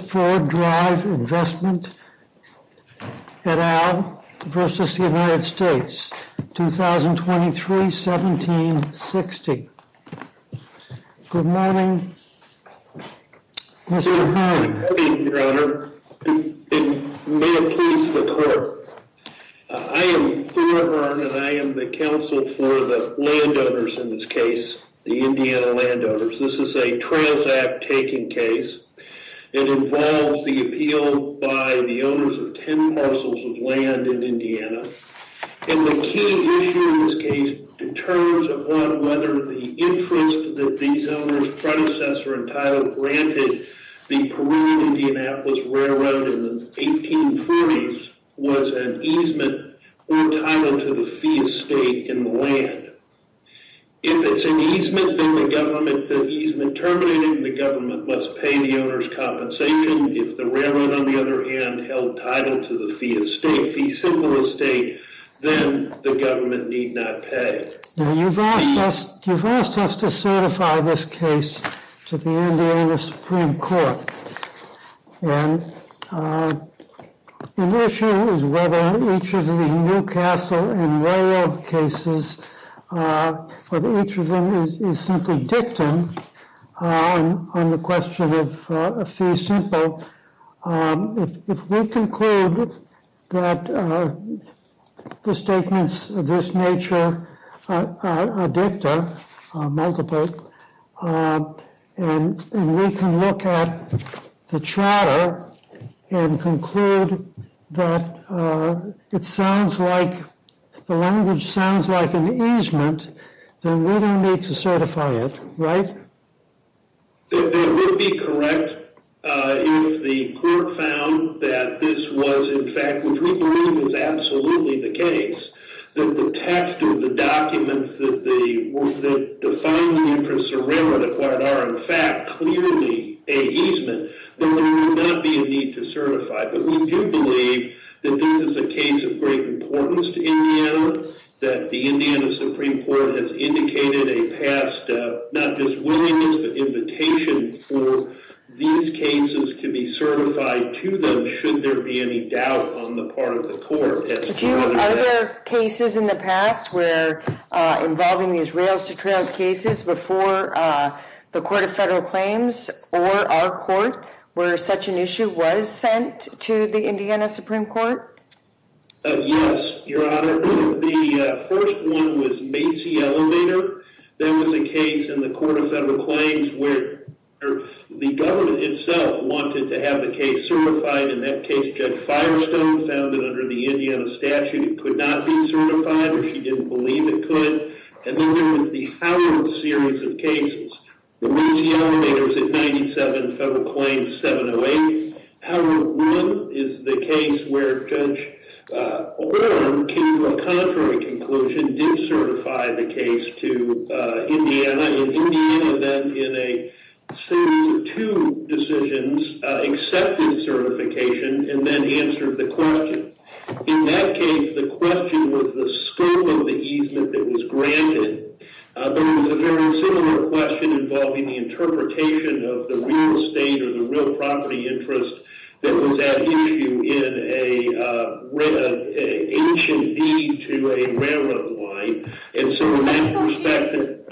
2023-1760. Good morning, Mr. Hearn. Good evening, Your Honor. It may please the Court. I am Thore Hearn and I am the counsel for the landowners in this case, the Indiana landowners. This is a Trails Act taking case. It involves the appeal by the owners of 10 parcels of land in Indiana. And the key issue in this case determines upon whether the interest that these owners predecessor entitled granted the Peru Indianapolis Railroad in the 1840s was an easement or a title to the fee estate in the land. If it's an easement, then the government that easement terminated in the government must pay the owner's compensation. If the railroad, on the other hand, held title to the fee estate, fee simple estate, then the government need not pay. Now, you've asked us to certify this case to the Indiana Supreme Court. And an issue is whether each of the Newcastle and railroad cases, whether each of them is simply dictum on the question of a fee simple. If we conclude that the statements of this nature are dicta, multiple, and we can look at the charter and conclude that it sounds like, the language sounds like an easement, then we don't need to certify it, right? That would be correct if the court found that this was in fact, which we believe is absolutely the case, that the text of the documents that define the interest of railroad are in fact clearly a easement, then there would not be a need to certify. But we do believe that this is a case of great importance to Indiana, that the Indiana Supreme Court has indicated a past, not just willingness, but invitation for these cases to be certified to them should there be any doubt on the part of the court. Are there cases in the past where involving these rails-to-trails cases before the Court of Federal Claims or our court where such an issue was sent to the Indiana Supreme Court? Yes, Your Honor. The first one was Macy Elevator. That was a case in the Court of Federal Claims where the government itself wanted to have the case certified. In that case, Judge Firestone found that under the Indiana statute, it could not be certified, or she didn't believe it could. And then there was the Howard series of cases. Macy Elevator was at 97 Federal Claims, 708. Howard 1 is the case where Judge O'Brien came to a contrary conclusion, did certify the case to Indiana, and Indiana then in a series of two decisions accepted certification and then answered the question. In that case, the question was the scope of the easement that was granted, but it was a very similar question involving the interpretation of the real estate or the real property interest that was at issue in a H and D to a railroad line. And so in that respect...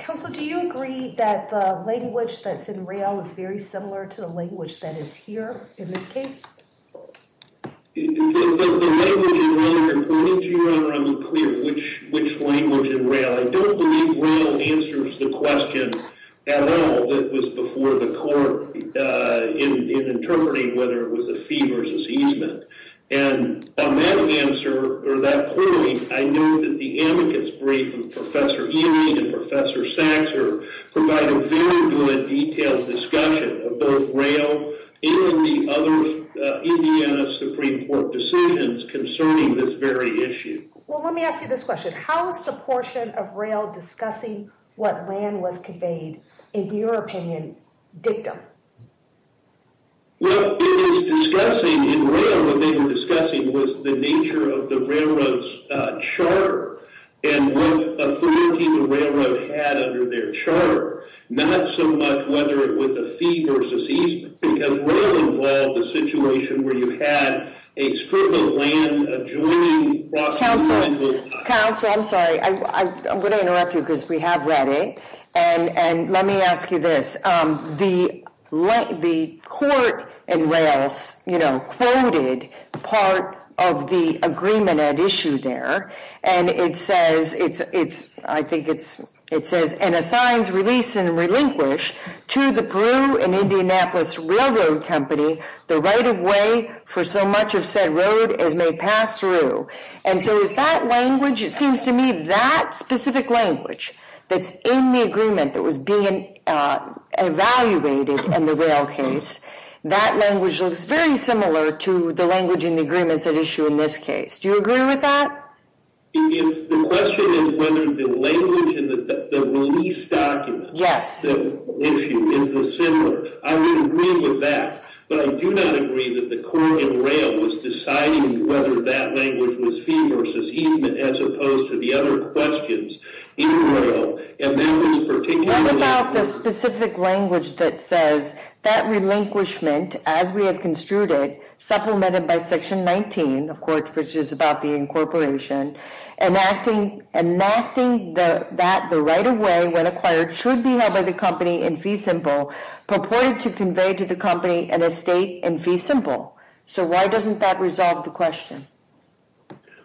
Counsel, do you agree that the language that's in rail is very similar to the language that is here in this case? The language in rail, Your Honor, I'm not clear which language in rail. I don't believe rail answers the question at all that was before the court in interpreting whether it And on that answer, or that point, I know that the advocates brief of Professor Ewing and Professor Saxer provide a very good detailed discussion of both rail and the other Indiana Supreme Court decisions concerning this very issue. Well, let me ask you this question. How is the portion of rail discussing what land was conveyed, in your opinion, dictum? Well, it is discussing in rail what they were discussing was the nature of the railroad's chart and what authority the railroad had under their chart. Not so much whether it was a fee versus easement, because rail involved a situation where you had a strip of land adjoining... Counsel, I'm sorry. I'm going to interrupt you because we have read it. And let me ask you this. The court in rail quoted part of the agreement at issue there, and it says, I think it says, and assigns release and relinquish to the Peru and Indianapolis Railroad Company the right of way for so much of said road as may pass through. And so is that language, it seems to me, that specific language that's in the agreement that was being evaluated in the rail case, that language looks very similar to the language in the agreements at issue in this case. Do you agree with that? If the question is whether the language in the release document... Yes. ...is the similar, I would agree with that. But I do not agree that the court in rail was deciding whether that language was fee versus easement as opposed to the other questions in rail. And that was particularly... What about the specific language that says that relinquishment, as we have construed it, supplemented by section 19, of course, which is about the incorporation, enacting that the right of way when acquired should be held by the company in fee simple, purported to convey to the company an estate in fee simple. So why doesn't that resolve the question?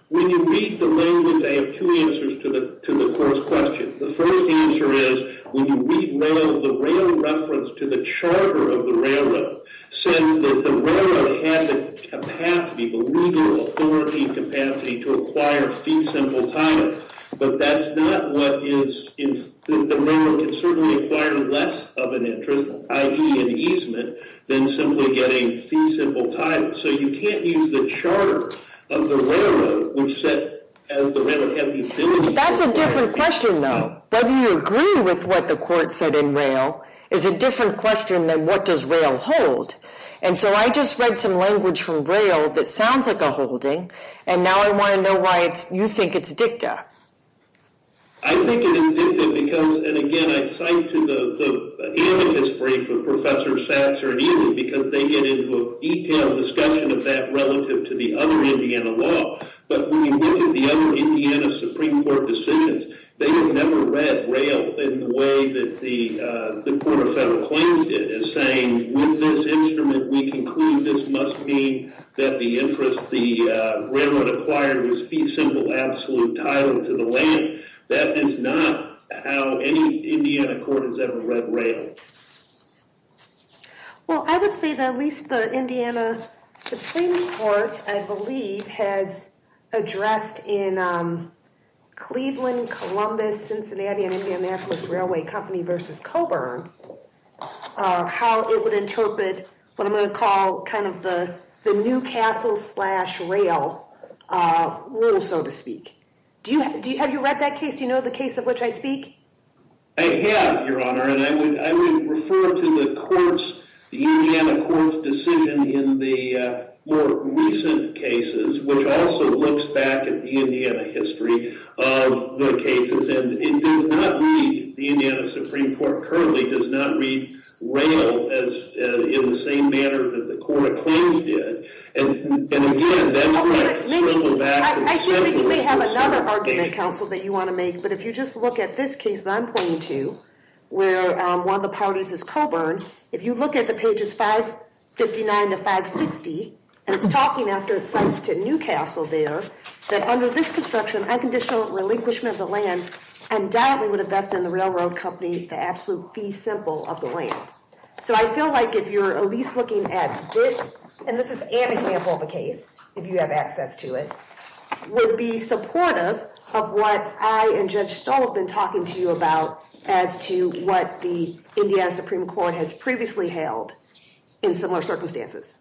When you read the language, I have two answers to the court's question. The first answer is when you read rail, the rail reference to the charter of the railroad says that the railroad had the capacity, the legal authority capacity to acquire fee simple title. But that's not what is... The railroad can certainly acquire less of an interest, i.e. an easement, than simply getting fee simple title. So you can't use the charter of the railroad, which said as the railroad has the ability... That's a different question, though. Whether you agree with what the court said in rail is a different question than what does rail hold. And so I just read some language from I think it is dicta because, and again, I cite to the amicus brief of Professor Satcher and Ely because they get into a detailed discussion of that relative to the other Indiana law. But when you look at the other Indiana Supreme Court decisions, they have never read rail in the way that the Court of Federal Claims did, as saying, with this instrument, we conclude this must mean that the interest the railroad acquired was fee simple absolute title to the land. That is not how any Indiana court has ever read rail. Well, I would say that at least the Indiana Supreme Court, I believe, has addressed in Cleveland, Columbus, Cincinnati, and Indianapolis Railway Company versus Coburn, how it would interpret what I'm going to call kind of the Newcastle slash rail rule, so to speak. Have you read that case? Do you know the case of which I speak? I have, Your Honor, and I would refer to the Indiana court's decision in the more recent cases, which also looks back at the Indiana history of the cases. And it does not read, the Indiana Supreme Court currently does not read rail in the same manner that the Court of Claims did. And again, that's where I struggle back. I assume that you may have another argument, counsel, that you want to make. But if you just look at this case that I'm pointing to, where one of the parties is Coburn, if you look at the pages 559 to 560, and it's talking after it cites to Newcastle there, that under this construction, unconditional relinquishment of the land, undoubtedly would invest in the railroad company the absolute fee simple of the land. So I feel like if you're at least looking at this, and this is an example of a case, if you have access to it, would be supportive of what I and Judge Stoll have been talking to you about as to what the Indiana Supreme Court has previously held in similar circumstances.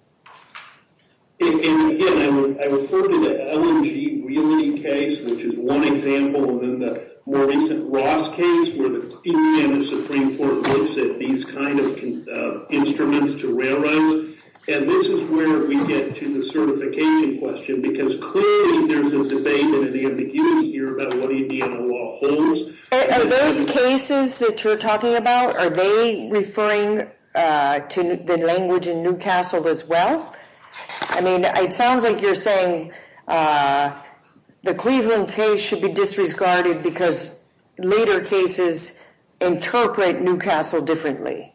And again, I refer to the LNG Realty case, which is one example, and then the more recent Ross case, where the Indiana Supreme Court looks at these kind of instruments to railroads. And this is where we get to the certification question, because clearly there's a debate in the ambiguity here about what Indiana law holds. Are those cases that you're talking about, are they referring to the language in Newcastle as well? I mean, it sounds like you're saying the Cleveland case should be disregarded because later cases interpret Newcastle differently.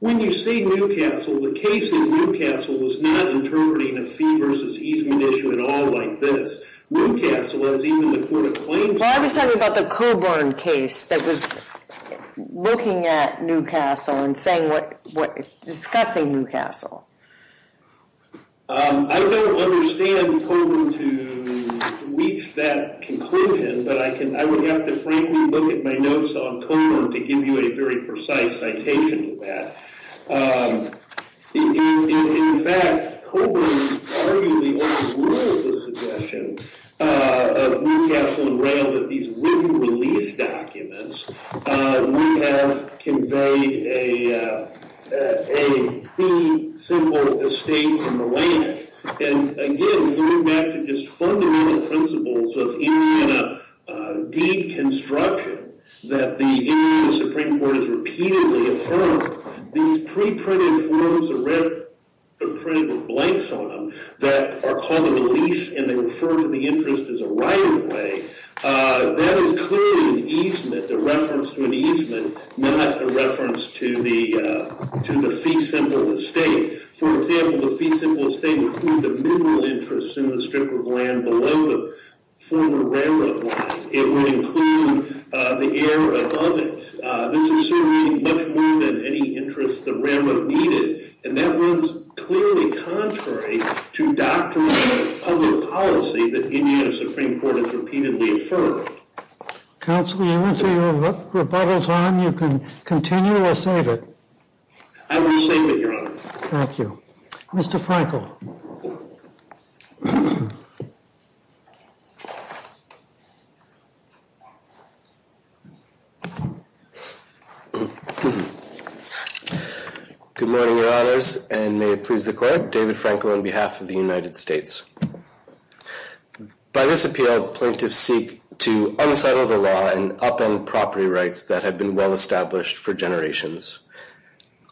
When you say Newcastle, the case in Newcastle was not interpreting a fee versus easement issue at all like this. Newcastle has even the court of claims... I was talking about the Coburn case that was looking at Newcastle and discussing Newcastle. I don't understand Coburn to reach that conclusion, but I would have to frankly look at my notes on Coburn to give you a very precise citation of that. In fact, Coburn arguably overruled the suggestion of Newcastle and railed that these written release documents would have conveyed a fee, simple estate in the land. And again, going back to just fundamental principles of Indiana deconstruction that the Indiana Supreme Court has repeatedly affirmed, these pre-printed forms or printed blanks on them that are called a release and they refer to the interest as a right of way, that is clearly an easement, a reference to an easement, not a reference to the fee symbol of the state. For example, the fee symbol of the state would include the mineral interest in the strip of land below the former railroad line. It would include the air above it. This is certainly much more than any interest the railroad needed. And that was clearly contrary to doctrinal public policy that the Indiana Supreme Court has repeatedly affirmed. Counsel, you went through your rebuttal time. You can continue or save it. I will save it, Your Honor. Thank you. Mr. Frankel. Good morning, Your Honors, and may it please the Court. David Frankel on behalf of the United States. By this appeal, plaintiffs seek to unsettle the law and upend property rights that have been well established for generations.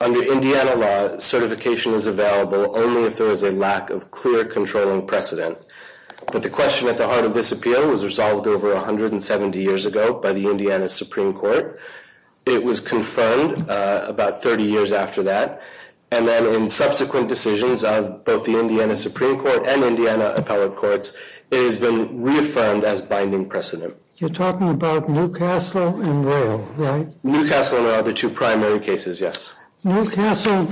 Under Indiana law, certification is available only if there is a lack of clear controlling precedent. But the question at the heart of this appeal was resolved over 170 years ago by the Indiana Supreme Court. It was confirmed about 30 years after that, and then in subsequent decisions of both the Indiana Supreme Court and Indiana appellate courts, it has been reaffirmed as binding precedent. You're talking about Newcastle and Royal, right? Newcastle and the other two primary cases, yes. Newcastle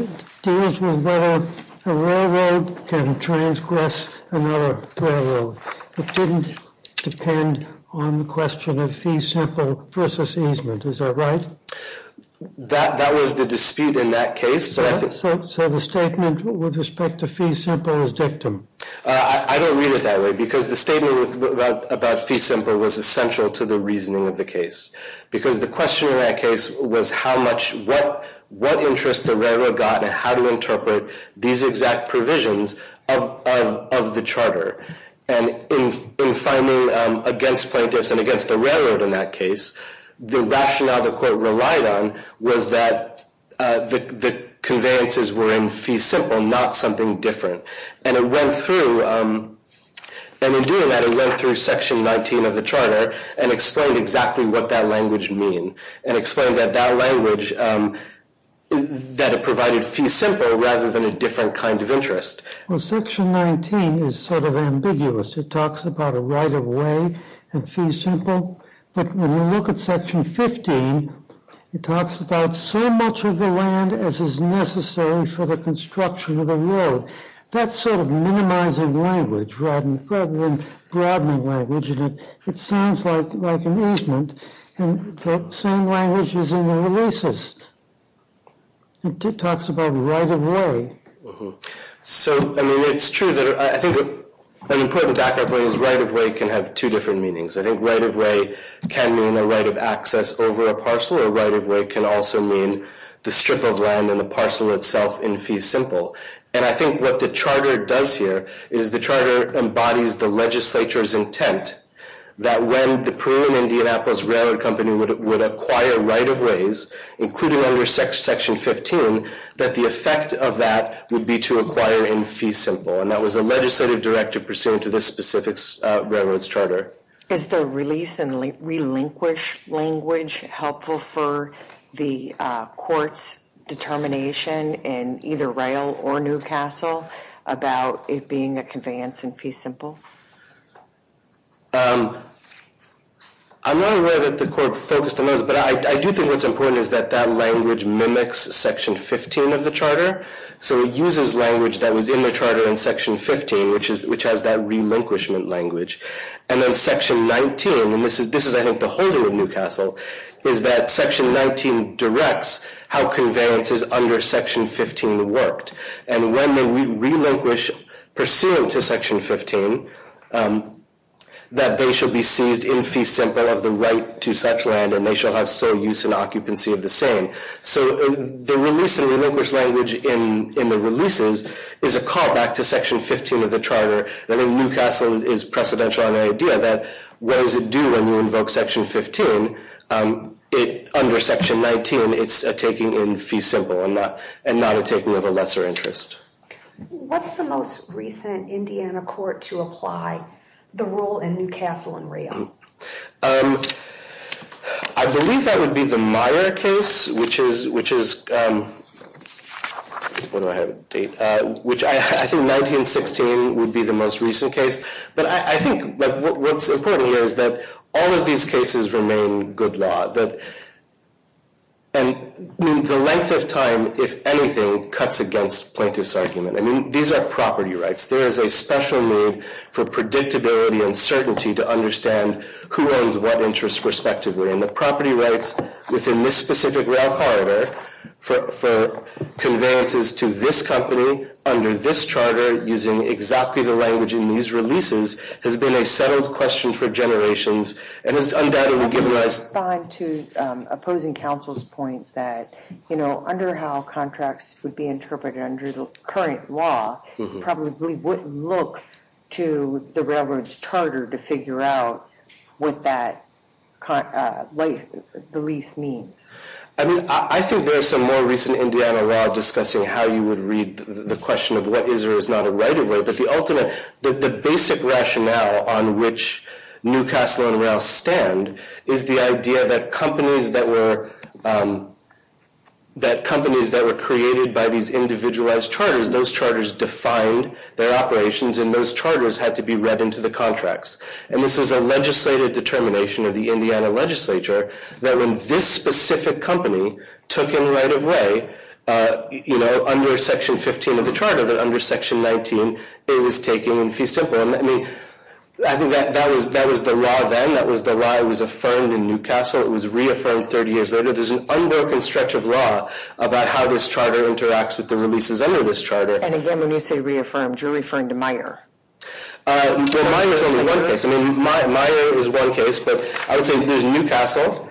deals with whether a railroad can transgress another railroad. It didn't depend on the question of fee simple versus easement. Is that right? That was the dispute in that case. So the statement with respect to fee simple is dictum? I don't read it that way, because the statement about fee simple was essential to the reasoning of the case, because the question in that case was what interest the railroad got and how to interpret these exact provisions of the charter. And in finding against plaintiffs and against the railroad in that case, the rationale the court relied on was that the conveyances were in fee simple, not something different. And in doing that, it went through section 19 of the charter and explained exactly what that language mean, and explained that that language, that it provided fee simple rather than a different kind of interest. Well, section 19 is sort of ambiguous. It talks about a right of way and fee simple. But when you look at section 15, it talks about so much of the land as is necessary for the construction of the road. That's sort of minimizing language rather than broadening language, and it sounds like an easement. And that same language is in the releases. It talks about right of way. So, I mean, it's true that I think an important background point is right of way can have two different meanings. I think right of way can mean a right of access over a parcel, or right of way can also mean the strip of land and the parcel itself in fee simple. And I think what the charter does here is the charter embodies the legislature's intent that when the Peru and Indianapolis Railroad Company would acquire right of ways, including under section 15, that the effect of that would be to acquire in fee simple. And that was a legislative directive pursuant to this specific railroad's charter. Is the release and relinquish language helpful for the court's determination in either rail or Newcastle about it being a conveyance in fee simple? I'm not aware that the court focused on those, but I do think what's important is that that language mimics section 15 of the charter. So it uses language that was in the section 19, and this is I think the holding of Newcastle, is that section 19 directs how conveyances under section 15 worked. And when they relinquish pursuant to section 15, that they shall be seized in fee simple of the right to such land, and they shall have so use and occupancy of the same. So the release and relinquish language in the releases is a call back to section 15 of the charter. I think Newcastle is precedential on the idea that what does it do when you invoke section 15? Under section 19, it's a taking in fee simple and not a taking of a lesser interest. What's the most recent Indiana court to apply the rule in Newcastle and rail? I believe that would be the Meyer case, which I think 1916 would be the most recent case. But I think what's important here is that all of these cases remain good law. And the length of time, if anything, cuts against plaintiff's argument. These are property rights. There is a special need for predictability and certainty to understand who owns what interest respectively. And the property rights within this specific rail corridor for conveyances to this company under this charter using exactly the language in these releases has been a settled question for generations and has undoubtedly given us... I would respond to opposing counsel's point that under how contracts would be interpreted under the current law, we probably wouldn't look to the railroad's charter to figure out what that release means. I think there are some more recent Indiana law discussing how you would read the question of what is or is not a right of way, but the basic rationale on which Newcastle and rail stand is the idea that companies that were created by these individualized charters, those charters defined their operations and those charters had to be read into the contracts. And this is a legislative determination of the Indiana legislature that when this specific company took in right of way under section 15 of the charter, that under section 19 it was taking in fee simple. I think that was the law then. That was the law that was affirmed in Newcastle. It was reaffirmed 30 years later. There's an unbroken stretch of law about how this charter interacts with the releases under this charter. And again, when you say reaffirmed, you're referring to Meijer. Well, Meijer is only one case. I mean, Meijer is one case, but I would say there's Newcastle,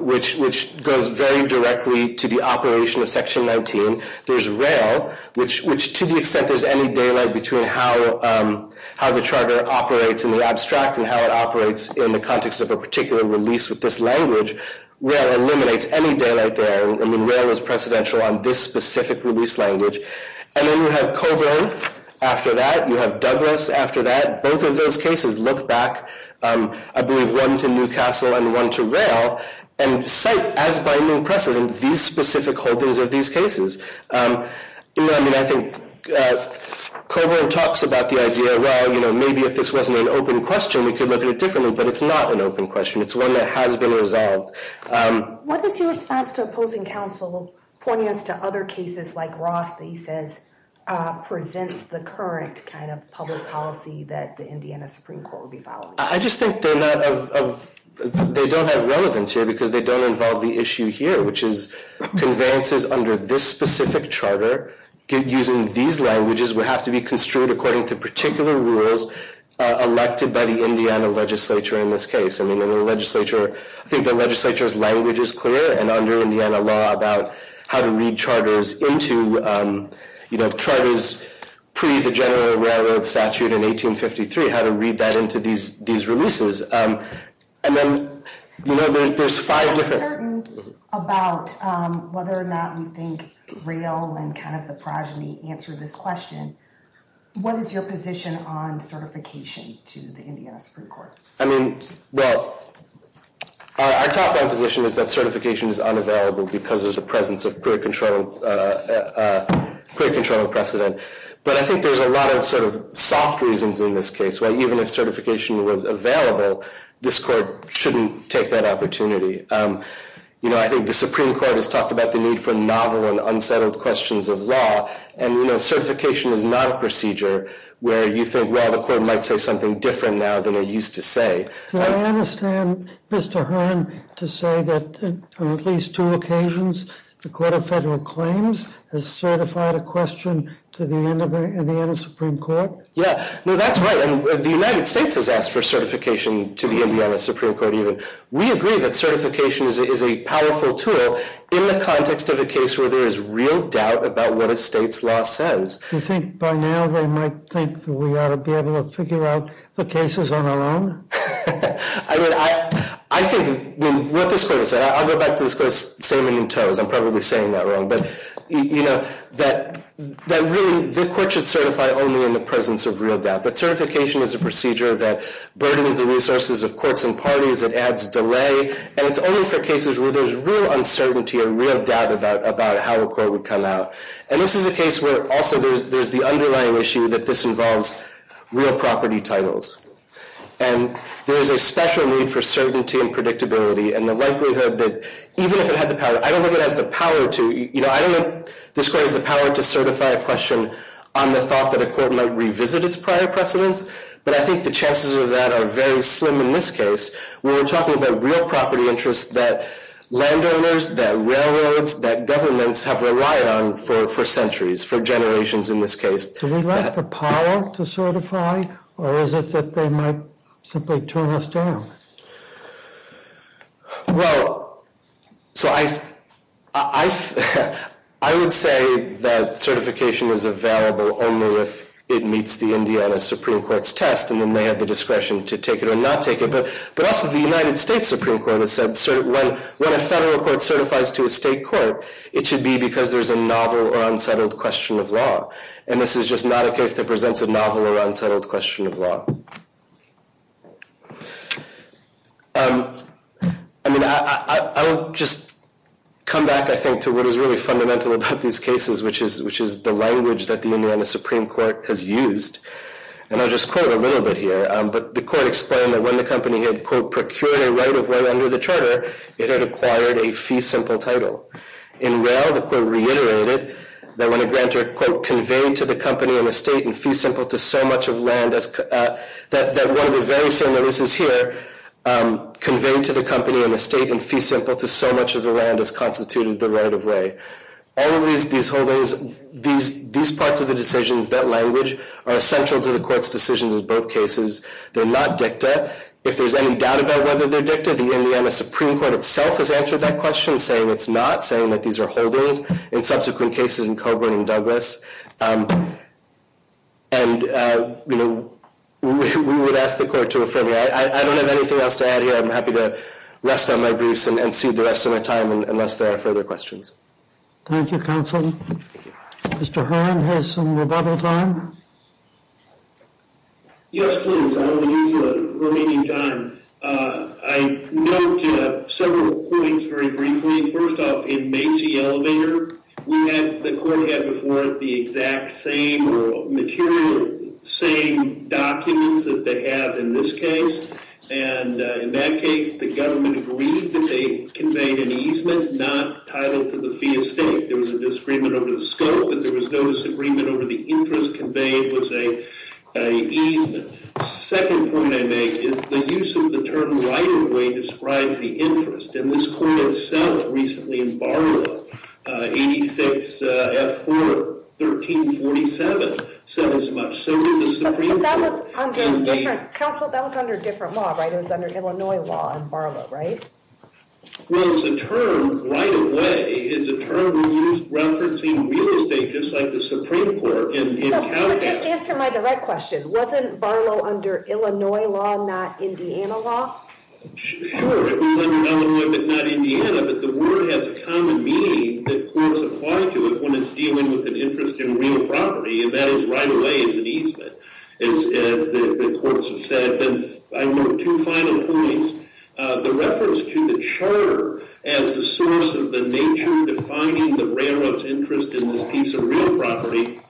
which goes very directly to the operation of section 19. There's rail, which to the extent there's any daylight between how the charter operates in the abstract and how it operates in the context of a particular release with this language, rail eliminates any daylight there. I mean, rail is precedential on this specific release language. And then you have Coburn after that. You have Douglas after that. Both of those cases look back, I believe one to Newcastle and one to rail, and cite as binding precedent these specific holdings of these cases. I mean, I think Coburn talks about the idea, well, you know, maybe if this wasn't an open question, we could look at it differently. But it's not an open question. It's one that has been resolved. What is your response to opposing counsel pointing us to other cases like Roth that he says presents the current kind of public policy that the Indiana Supreme Court would be following? I just think they don't have relevance here because they don't involve the issue here, which is conveyances under this specific charter using these languages would have to be construed according to particular rules elected by the Indiana legislature in this case. I mean, I think the legislature's language is clear, and under Indiana law, about how to read charters into, you know, charters pre the general railroad statute in 1853, how to read that into these releases. And then, you know, there's five different. I'm uncertain about whether or not we think rail and kind of the progeny answer this question. What is your position on certification to the Indiana Supreme Court? I mean, well, our top-down position is that certification is unavailable because of the presence of clear control precedent. But I think there's a lot of sort of soft reasons in this case, why even if certification was available, this court shouldn't take that opportunity. You know, I think the Supreme Court has talked about the need for novel and unsettled questions of law. And, you know, certification is not a procedure where you think, well, the court might say something different now than it used to say. I understand Mr. Hearn to say that on at least two occasions, the Court of Federal Claims has certified a question to the Indiana Supreme Court. Yeah, no, that's right. And the United States has asked for certification to the Indiana Supreme Court even. We agree that certification is a powerful tool in the context of a case where there is real doubt about what a state's law says. You think by now they might think that we ought to be able to figure out the cases on our own? I mean, I think what this court has said, I'll go back to this court's salmon and toes. I'm probably saying that wrong. But, you know, that really the court should certify only in the presence of real doubt. That certification is a procedure that burdens the resources of courts and parties. It adds delay. And it's only for cases where there's real uncertainty and real doubt about how a court would come out. And this is a case where also there's the underlying issue that this involves real property titles. And there's a special need for certainty and predictability and the likelihood that even if it had the power, I don't think it has the power to, you know, I don't think this court has the power to certify a question on the thought that a court might revisit its prior precedents. But I think the chances of that are very slim in this case. We're talking about real property interests that landowners, that railroads, that governments have relied on for centuries, for generations in this case. Do we lack the power to certify or is it that they might simply turn us down? Well, so I would say that certification is available only if it meets the Indiana Supreme Court's test and then they have the discretion to take it or not take it. But also the United States Supreme Court has said when a federal court certifies to a state court, it should be because there's a novel or unsettled question of law. And this is just not a case that presents a novel or unsettled question of law. I mean, I'll just come back, I think, to what is really fundamental about these cases, which is the language that the Indiana Supreme Court has used. And I'll just quote a little bit here. But the court explained that when the company had, quote, procured a right of way under the charter, it had acquired a fee simple title. In rail, the court reiterated that when a grantor, quote, conveyed to the company an estate in fee simple to so much of land, that one of the very certain notices here conveyed to the company an estate in fee simple to so much of the land as constituted the right of way. All of these parts of the decisions, that language, are essential to the court's decisions in both cases. They're not dicta. If there's any doubt about whether they're dicta, the Indiana Supreme Court itself has answered that question in saying it's not, saying that these are holdings in subsequent cases in Coburn and Douglas. And, you know, we would ask the court to affirm that. I don't have anything else to add here. I'm happy to rest on my briefs and cede the rest of my time unless there are further questions. Thank you, counsel. Mr. Horan has some rebuttal time. Yes, please. I will use the remaining time. I note several points very briefly. First off, in Macy Elevator, the court had before it the exact same material, same documents that they have in this case. And in that case, the government agreed that they conveyed an easement not titled to the fee estate. There was a disagreement over the scope and there was no disagreement over the interest conveyed was a easement. Second point I make is the use of the term right-of-way describes the interest. And this court itself recently in Barlow, 86 F4 1347, said as much. So did the Supreme Court. But that was under a different, counsel, that was under a different law, right? It was under Illinois law in Barlow, right? Well, it's a term right-of-way is a term we use referencing real estate just like the Supreme Court. But just answer my direct question. Wasn't Barlow under Illinois law, not Indiana law? Sure. It was under Illinois, but not Indiana. But the word has a common meaning that courts apply to it when it's dealing with an interest in real property. And that is right-of-way is an easement, as the courts have said. And I note two final points. The reference to the charter as the source of the nature defining the railroad's interest in this piece of real property,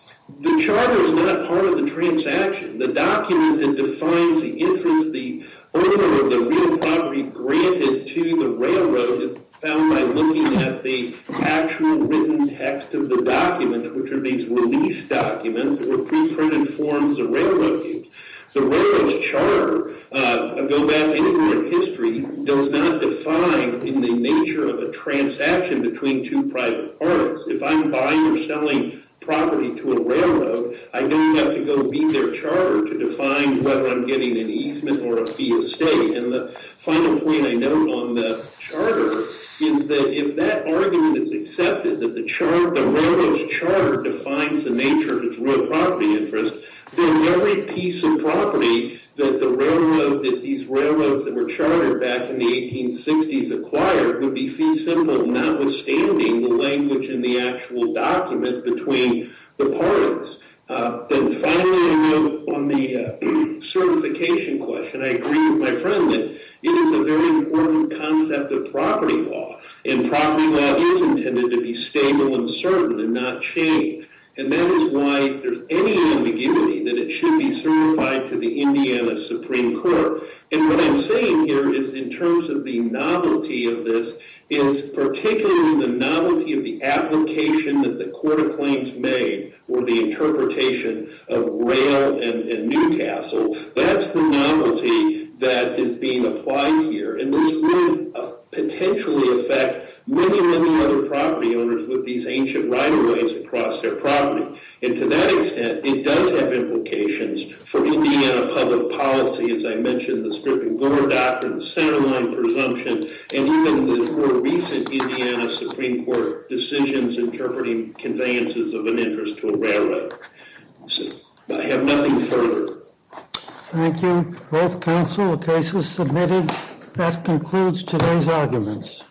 the charter is not part of the transaction. The document that defines the interest, the owner of the real property granted to the railroad is found by looking at the actual written text of the document, which are these release documents that were preprinted forms of railroad use. The railroad's charter, I'll go back anywhere in history, does not define in the nature of a transaction between two private parties. If I'm buying or selling property to a railroad, I don't have to go read their charter to define whether I'm getting an easement or a fee estate. And the final point I note on the charter is that if that argument is accepted, that the railroad's charter defines the nature of its real property interest, then every piece of property that these railroads that were chartered back in the 1860s acquired would be fee simple notwithstanding the language in the actual document between the parties. Then finally, I note on the certification question, I agree with my friend that it is a very important concept of property law, and property law is intended to be stable and certain and not change. And that is why there's any ambiguity that it should be certified to the Indiana Supreme Court. And what I'm saying here is in terms of the novelty of this, is particularly the novelty of the application that the court of claims made or the interpretation of rail and Newcastle, that's the novelty that is being applied here. And this would potentially affect many, many other property owners with these ancient right-of-ways across their property. And to that extent, it does have implications for Indiana public policy, as I mentioned, the Stripping Gore Doctrine, the Centerline Presumption, and even the more recent Indiana Supreme Court decisions interpreting conveyances of an interest to a railroad. I have nothing further. Thank you. Both counsel, the case is submitted. That concludes today's arguments.